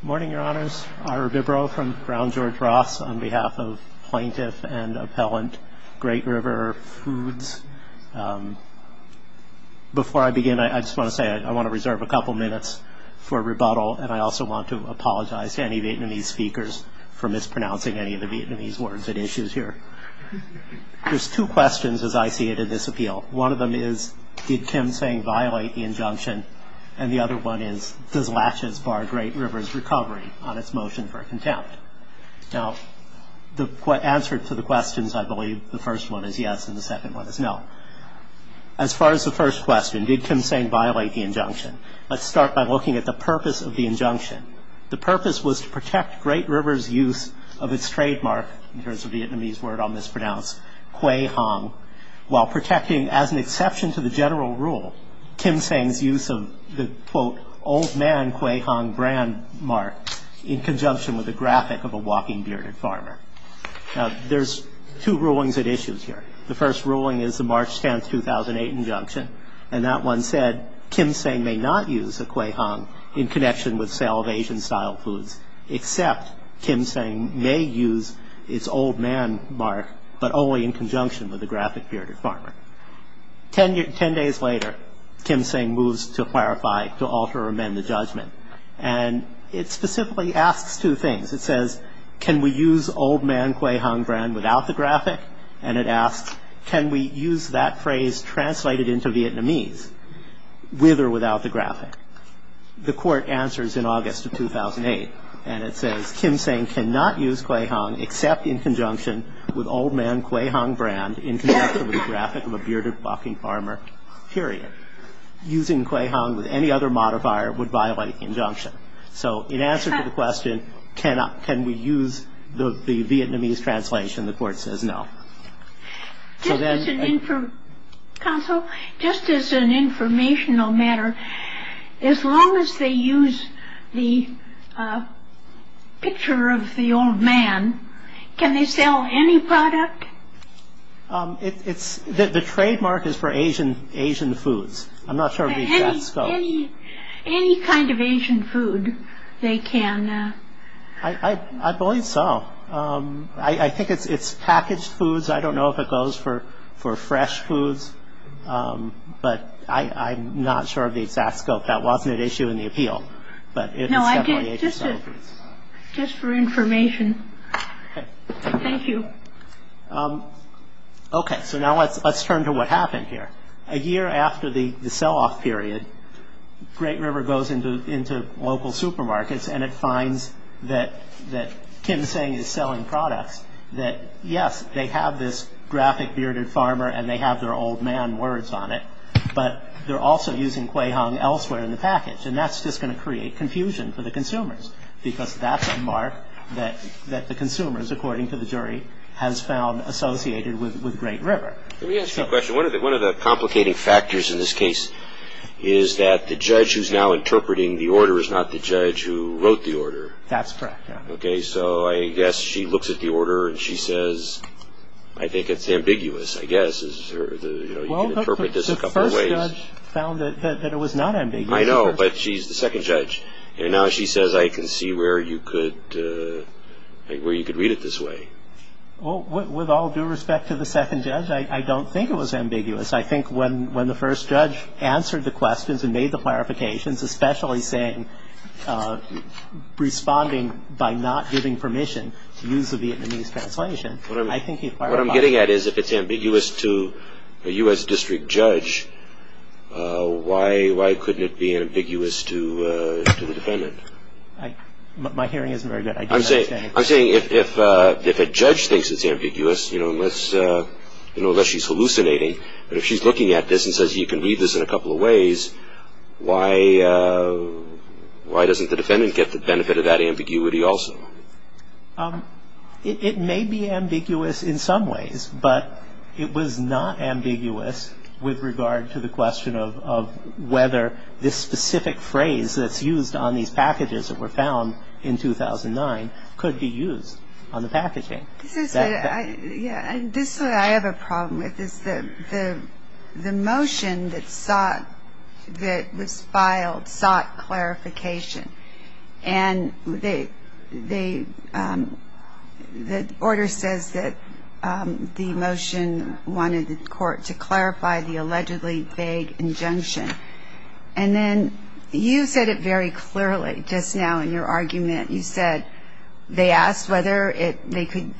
Good morning, Your Honors. Ira Bibro from Brown George Ross on behalf of Plaintiff and Appellant Great River Foods. Before I begin, I just want to say I want to reserve a couple minutes for rebuttal, and I also want to apologize to any Vietnamese speakers for mispronouncing any of the Vietnamese words at issues here. There's two questions, as I see it, in this appeal. One of them is, did Kim Seng violate the injunction? And the other one is, does latches bar Great River's recovery on its motion for contempt? Now, the answer to the questions, I believe, the first one is yes, and the second one is no. As far as the first question, did Kim Seng violate the injunction, let's start by looking at the purpose of the injunction. The purpose was to protect Great River's use of its trademark, in terms of Vietnamese word I'll mispronounce, quay hong, while protecting, as an exception to the general rule, Kim Seng's use of the, quote, old man quay hong brand mark in conjunction with a graphic of a walking bearded farmer. Now, there's two rulings at issues here. The first ruling is the March 10, 2008 injunction, and that one said, Kim Seng may not use a quay hong in connection with sale of Asian-style foods, except Kim Seng may use its old man mark, but only in conjunction with a graphic bearded farmer. Ten days later, Kim Seng moves to clarify, to alter or amend the judgment. And it specifically asks two things. It says, can we use old man quay hong brand without the graphic? And it asks, can we use that phrase translated into Vietnamese, with or without the graphic? The court answers in August of 2008, and it says, Kim Seng cannot use quay hong except in conjunction with old man quay hong brand, in conjunction with a graphic of a bearded walking farmer, period. Using quay hong with any other modifier would violate the injunction. So in answer to the question, can we use the Vietnamese translation, the court says no. Counsel, just as an informational matter, as long as they use the picture of the old man, can they sell any product? The trademark is for Asian foods. Any kind of Asian food, they can. I believe so. I think it's packaged foods. I don't know if it goes for fresh foods. But I'm not sure of the exact scope. That wasn't an issue in the appeal. No, just for information. Thank you. Okay, so now let's turn to what happened here. A year after the sell-off period, Great River goes into local supermarkets, and it finds that Kim Seng is selling products that, yes, they have this graphic bearded farmer and they have their old man words on it, but they're also using quay hong elsewhere in the package. And that's just going to create confusion for the consumers, because that's a mark that the consumers, according to the jury, has found associated with Great River. Let me ask you a question. One of the complicating factors in this case is that the judge who's now interpreting the order is not the judge who wrote the order. That's correct, yeah. Okay, so I guess she looks at the order and she says, I think it's ambiguous, I guess. You can interpret this a couple of ways. Well, the first judge found that it was not ambiguous. I know, but she's the second judge. And now she says, I can see where you could read it this way. Well, with all due respect to the second judge, I don't think it was ambiguous. I think when the first judge answered the questions and made the clarifications, especially saying responding by not giving permission to use the Vietnamese translation, I think he acquired a lot. What I'm getting at is if it's ambiguous to a U.S. district judge, why couldn't it be ambiguous to the defendant? My hearing isn't very good. I don't understand. I'm saying if a judge thinks it's ambiguous, you know, unless she's hallucinating, but if she's looking at this and says you can read this in a couple of ways, why doesn't the defendant get the benefit of that ambiguity also? It may be ambiguous in some ways, but it was not ambiguous with regard to the question of whether this specific phrase that's used on these packages that were found in 2009 could be used on the packaging. This is what I have a problem with is the motion that was filed sought clarification. And the order says that the motion wanted the court to clarify the allegedly vague injunction. And then you said it very clearly just now in your argument. You said they asked whether they could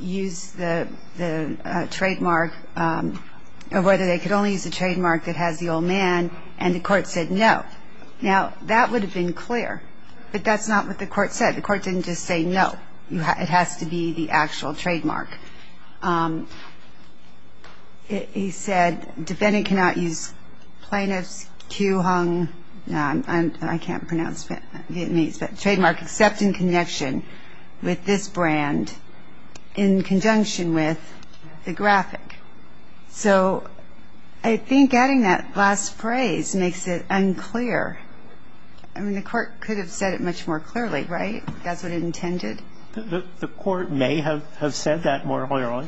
use the trademark or whether they could only use the trademark that has the old man, and the court said no. Now, that would have been clear, but that's not what the court said. The court didn't just say no. It has to be the actual trademark. He said defendant cannot use plaintiff's cue hung, I can't pronounce Vietnamese, but trademark except in connection with this brand in conjunction with the graphic. So I think adding that last phrase makes it unclear. I mean, the court could have said it much more clearly, right? That's what it intended? The court may have said that more clearly,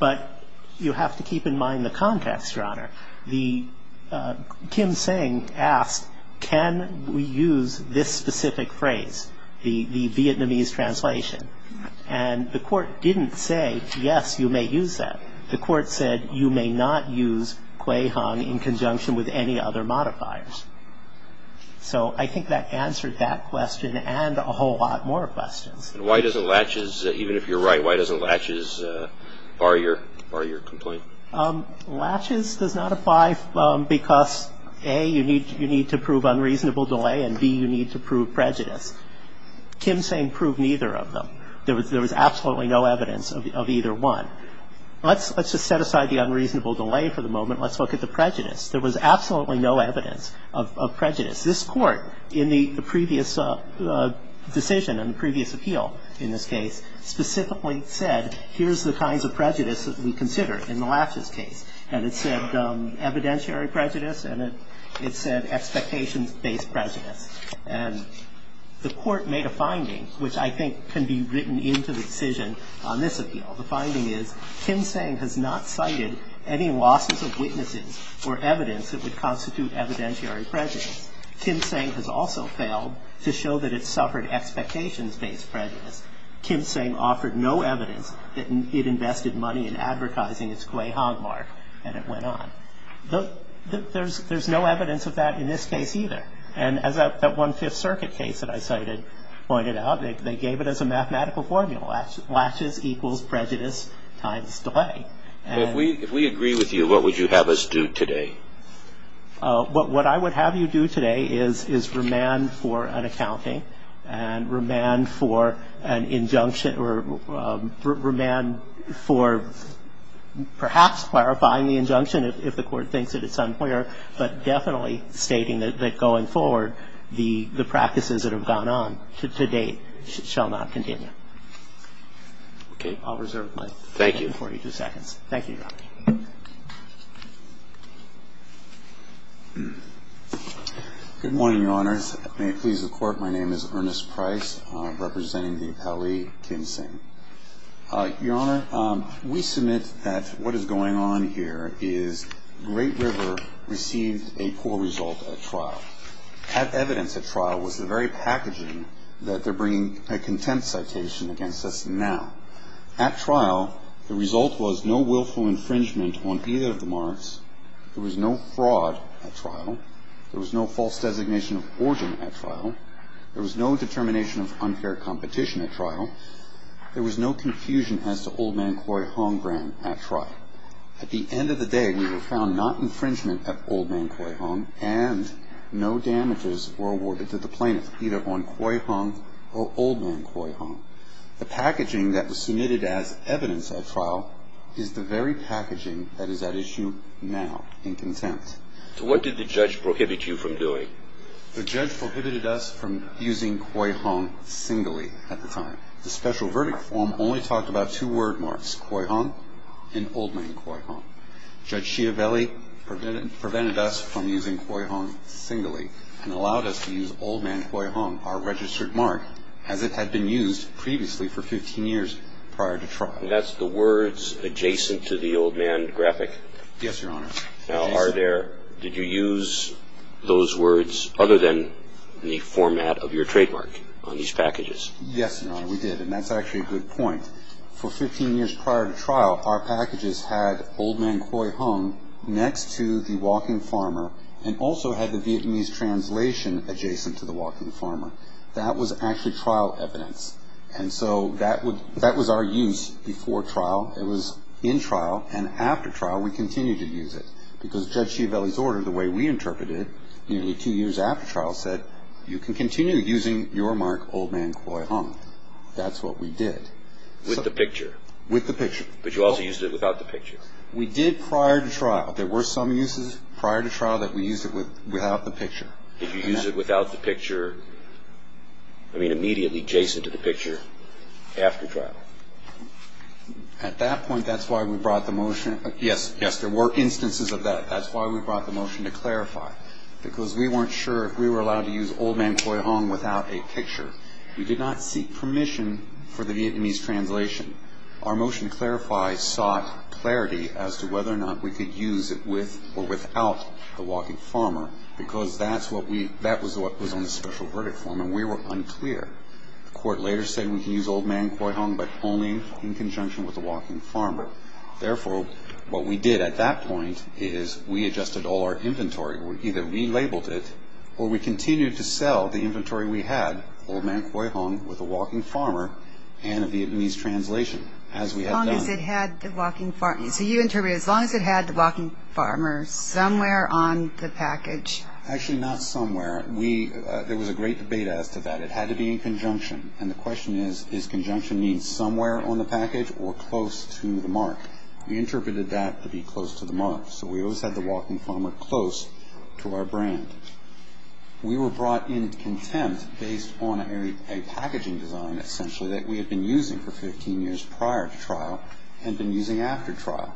but you have to keep in mind the contest, Your Honor. Kim Seng asked can we use this specific phrase, the Vietnamese translation, and the court didn't say yes, you may use that. The court said you may not use cue hung in conjunction with any other modifiers. So I think that answered that question and a whole lot more questions. And why doesn't Latches, even if you're right, why doesn't Latches bar your complaint? Latches does not apply because, A, you need to prove unreasonable delay, and, B, you need to prove prejudice. Kim Seng proved neither of them. There was absolutely no evidence of either one. Let's just set aside the unreasonable delay for the moment. Let's look at the prejudice. There was absolutely no evidence of prejudice. This court, in the previous decision and the previous appeal in this case, specifically said here's the kinds of prejudice that we consider in the Latches case. And it said evidentiary prejudice and it said expectations-based prejudice. And the court made a finding, which I think can be written into the decision on this appeal. The finding is Kim Seng has not cited any losses of witnesses or evidence that would constitute evidentiary prejudice. Kim Seng has also failed to show that it suffered expectations-based prejudice. Kim Seng offered no evidence that it invested money in advertising its cue hung mark. And it went on. There's no evidence of that in this case either. And as that one Fifth Circuit case that I cited pointed out, they gave it as a mathematical formula. Latches equals prejudice times delay. Well, if we agree with you, what would you have us do today? What I would have you do today is remand for an accounting and remand for an injunction or remand for perhaps clarifying the injunction if the court thinks that it's unclear, but definitely stating that going forward the practices that have gone on to date shall not continue. Okay. I'll reserve my time. Thank you. 42 seconds. Thank you, Your Honor. Good morning, Your Honors. May it please the Court, my name is Ernest Price representing the appellee Kim Seng. Your Honor, we submit that what is going on here is Great River received a poor result at trial. That evidence at trial was the very packaging that they're bringing a contempt citation against us now. At trial, the result was no willful infringement on either of the marks. There was no fraud at trial. There was no false designation of forgery at trial. There was no determination of unfair competition at trial. There was no confusion as to Old Man Khoi Hong gram at trial. At the end of the day, we were found not infringement of Old Man Khoi Hong and no damages were awarded to the plaintiff either on Khoi Hong or Old Man Khoi Hong. The packaging that was submitted as evidence at trial is the very packaging that is at issue now in contempt. So what did the judge prohibit you from doing? The judge prohibited us from using Khoi Hong singly at the time. The special verdict form only talked about two word marks, Khoi Hong and Old Man Khoi Hong. Judge Schiavelli prevented us from using Khoi Hong singly and allowed us to use Old Man Khoi Hong, our registered mark, as it had been used previously for 15 years prior to trial. And that's the words adjacent to the Old Man graphic? Yes, Your Honor. Now are there, did you use those words other than the format of your trademark on these packages? Yes, Your Honor, we did. And that's actually a good point. For 15 years prior to trial, our packages had Old Man Khoi Hong next to the Walking Farmer and also had the Vietnamese translation adjacent to the Walking Farmer. That was actually trial evidence. And so that was our use before trial. It was in trial. And that's what we did. With the picture? With the picture. But you also used it without the picture? We did prior to trial. There were some uses prior to trial that we used it without the picture. Did you use it without the picture, I mean immediately adjacent to the picture after trial? At that point, that's why we brought the motion. That's why we brought the motion. Because we weren't sure if we were allowed to use Old Man Khoi Hong without a picture. We did not seek permission for the Vietnamese translation. Our motion to clarify sought clarity as to whether or not we could use it with or without the Walking Farmer because that was on the special verdict form, and we were unclear. The court later said we could use Old Man Khoi Hong but only in conjunction with the Walking Farmer. Therefore, what we did at that point is we adjusted all our inventory. We either relabeled it or we continued to sell the inventory we had, Old Man Khoi Hong, with the Walking Farmer and a Vietnamese translation as we had done. So you interpreted as long as it had the Walking Farmer somewhere on the package. Actually not somewhere. There was a great debate as to that. It had to be in conjunction. And the question is, is conjunction mean somewhere on the package or close to the mark? We interpreted that to be close to the mark. So we always had the Walking Farmer close to our brand. We were brought in contempt based on a packaging design, essentially, that we had been using for 15 years prior to trial and been using after trial.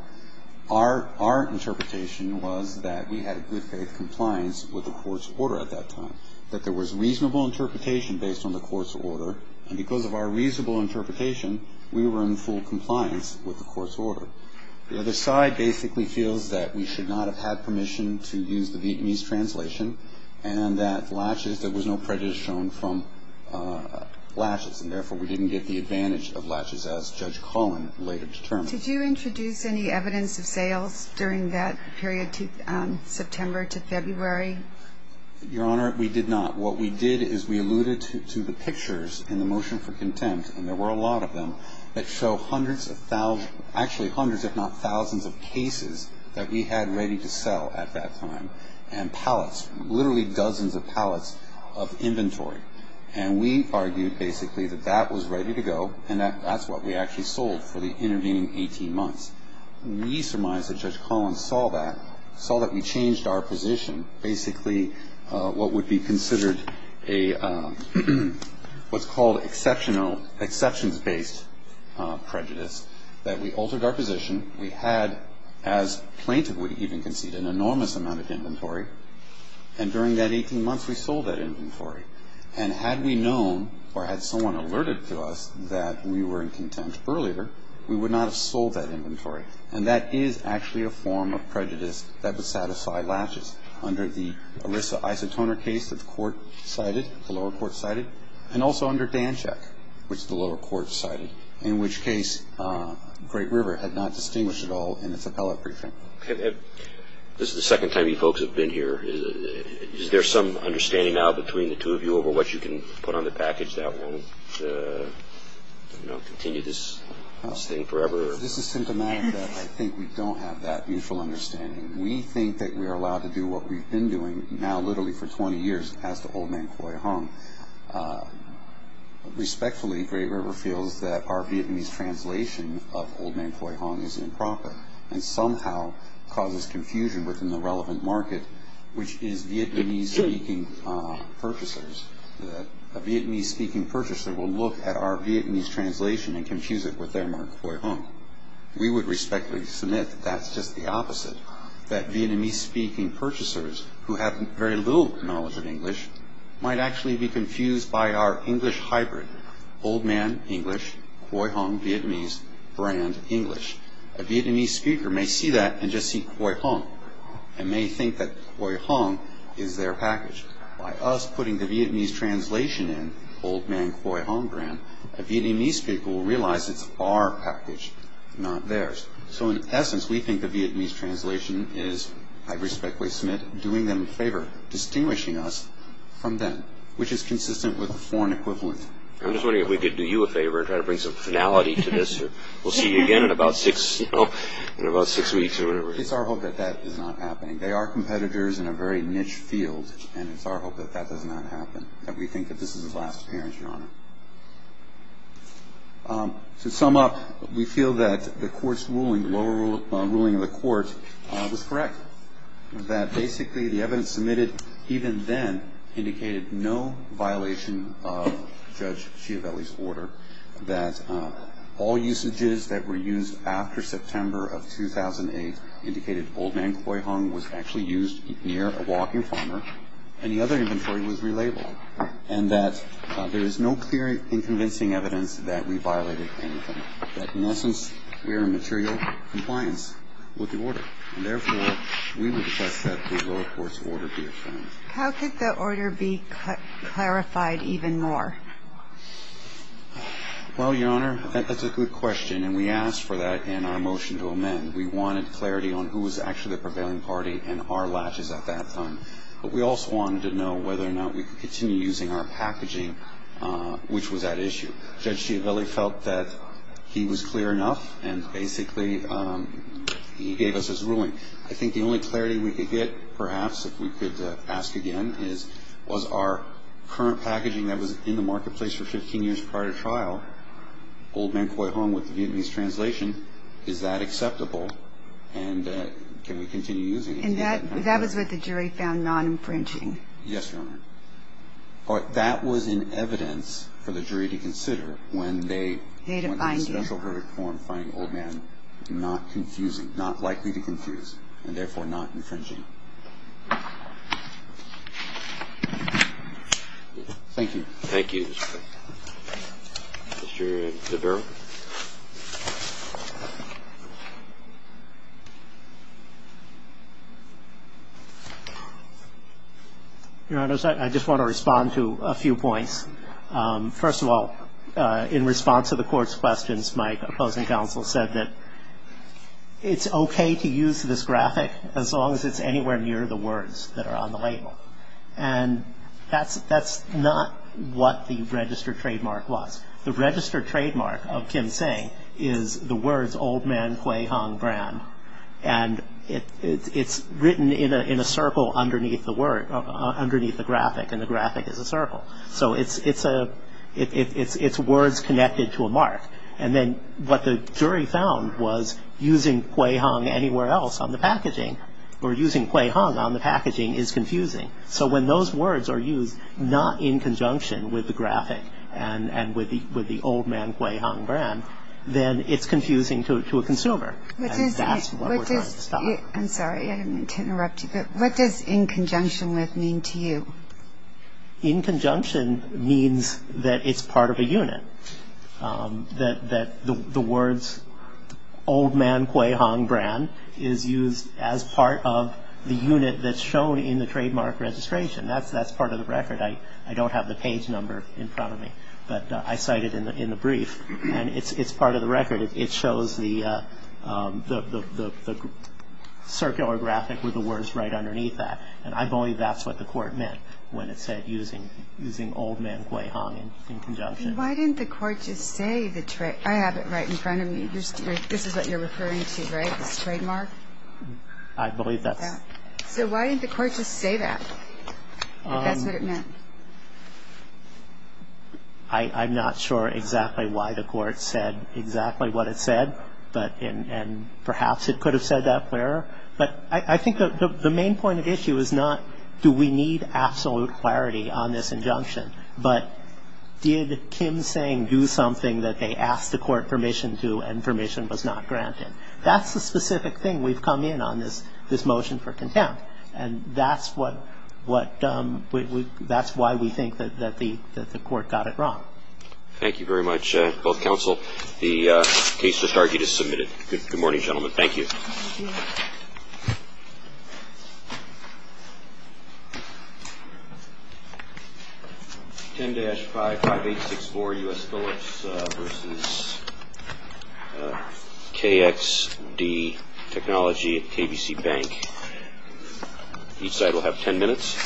Our interpretation was that we had good faith compliance with the court's order at that time, that there was reasonable interpretation based on the court's order, and because of our reasonable interpretation, we were in full compliance with the court's order. The other side basically feels that we should not have had permission to use the Vietnamese translation and that latches, there was no prejudice shown from latches, and therefore we didn't get the advantage of latches as Judge Cohen later determined. Did you introduce any evidence of sales during that period, September to February? Your Honor, we did not. What we did is we alluded to the pictures in the motion for contempt, and there were a lot of them, that show hundreds of thousands, actually hundreds if not thousands of cases that we had ready to sell at that time and pallets, literally dozens of pallets of inventory. And we argued basically that that was ready to go and that that's what we actually sold for the intervening 18 months. We surmise that Judge Collins saw that, saw that we changed our position, basically what would be considered what's called exceptions-based prejudice, that we altered our position. We had, as plaintiff would even concede, an enormous amount of inventory, and during that 18 months we sold that inventory. And had we known or had someone alerted to us that we were in contempt earlier, we would not have sold that inventory. And that is actually a form of prejudice that would satisfy latches under the Orissa Isotoner case that the court cited, the lower court cited, and also under Dancheck, which the lower court cited, in which case Great River had not distinguished at all in its appellate briefing. This is the second time you folks have been here. Is there some understanding now between the two of you over what you can put on the package that won't continue this thing forever? This is symptomatic that I think we don't have that mutual understanding. We think that we are allowed to do what we've been doing, now literally for 20 years, as to Old Main Khoi Hung. Respectfully, Great River feels that our Vietnamese translation of Old Main Khoi Hung is improper and somehow causes confusion within the relevant market, which is Vietnamese-speaking purchasers. A Vietnamese-speaking purchaser will look at our Vietnamese translation and confuse it with their Mark Khoi Hung. We would respectfully submit that that's just the opposite, that Vietnamese-speaking purchasers who have very little knowledge of English might actually be confused by our English hybrid, Old Main English, Khoi Hung, Vietnamese, Brand English. A Vietnamese speaker may see that and just see Khoi Hung and may think that Khoi Hung is their package. By us putting the Vietnamese translation in, Old Main Khoi Hung Brand, a Vietnamese speaker will realize it's our package, not theirs. So in essence, we think the Vietnamese translation is, I respectfully submit, doing them a favor, distinguishing us from them, which is consistent with the foreign equivalent. I'm just wondering if we could do you a favor and try to bring some finality to this. We'll see you again in about six weeks or whenever. It's our hope that that is not happening. They are competitors in a very niche field, and it's our hope that that does not happen, that we think that this is a last appearance, Your Honor. To sum up, we feel that the lower ruling of the court was correct, that basically the evidence submitted even then indicated no violation of Judge Schiavelli's order, that all usages that were used after September of 2008 indicated Old Main Khoi Hung was actually used near a walking farmer, and the other inventory was relabeled, and that there is no clear and convincing evidence that we violated anything, that in essence we are in material compliance with the order, and therefore we would request that the lower court's order be affirmed. How could the order be clarified even more? Well, Your Honor, that's a good question, and we asked for that in our motion to amend. We wanted clarity on who was actually the prevailing party and our latches at that time, but we also wanted to know whether or not we could continue using our packaging, which was at issue. Judge Schiavelli felt that he was clear enough, and basically he gave us his ruling. I think the only clarity we could get perhaps, if we could ask again, is was our current packaging that was in the marketplace for 15 years prior to trial, Old Main Khoi Hung with the Vietnamese translation, is that acceptable, and can we continue using it? And that was what the jury found non-infringing. Yes, Your Honor. That was in evidence for the jury to consider when they went to the special verdict form and found Old Main not confusing, not likely to confuse, and therefore not infringing. Thank you. Thank you. Mr. Devereux. Your Honors, I just want to respond to a few points. First of all, in response to the Court's questions, my opposing counsel said that it's okay to use this graphic as long as it's anywhere near the words that are on the label, and that's not what the registered trademark was. The registered trademark of Kim Sing is the words Old Main Khoi Hung brand, and it's written in a circle underneath the word, underneath the graphic, and the graphic is a circle. So it's words connected to a mark. And then what the jury found was using Khoi Hung anywhere else on the packaging, or using Khoi Hung on the packaging, is confusing. So when those words are used not in conjunction with the graphic and with the Old Main Khoi Hung brand, then it's confusing to a consumer, and that's what we're trying to stop. I'm sorry, I didn't mean to interrupt you, but what does in conjunction with mean to you? In conjunction means that it's part of a unit, that the words Old Main Khoi Hung brand is used as part of the unit that's shown in the trademark registration. That's part of the record. I don't have the page number in front of me, but I cite it in the brief, and it's part of the record. It shows the circular graphic with the words right underneath that, and I believe that's what the court meant when it said using Old Main Khoi Hung in conjunction. Why didn't the court just say the trademark? I have it right in front of me. This is what you're referring to, right, this trademark? I believe that's it. So why didn't the court just say that, if that's what it meant? I'm not sure exactly why the court said exactly what it said, and perhaps it could have said that clearer, but I think the main point of issue is not do we need absolute clarity on this injunction, but did Kim Tseng do something that they asked the court permission to and permission was not granted? That's the specific thing we've come in on, this motion for contempt, and that's why we think that the court got it wrong. Thank you very much, both counsel. The case just argued is submitted. Good morning, gentlemen. Thank you. Thank you. 10-55864 U.S. Phillips v. KXD Technology at KBC Bank. Each side will have ten minutes.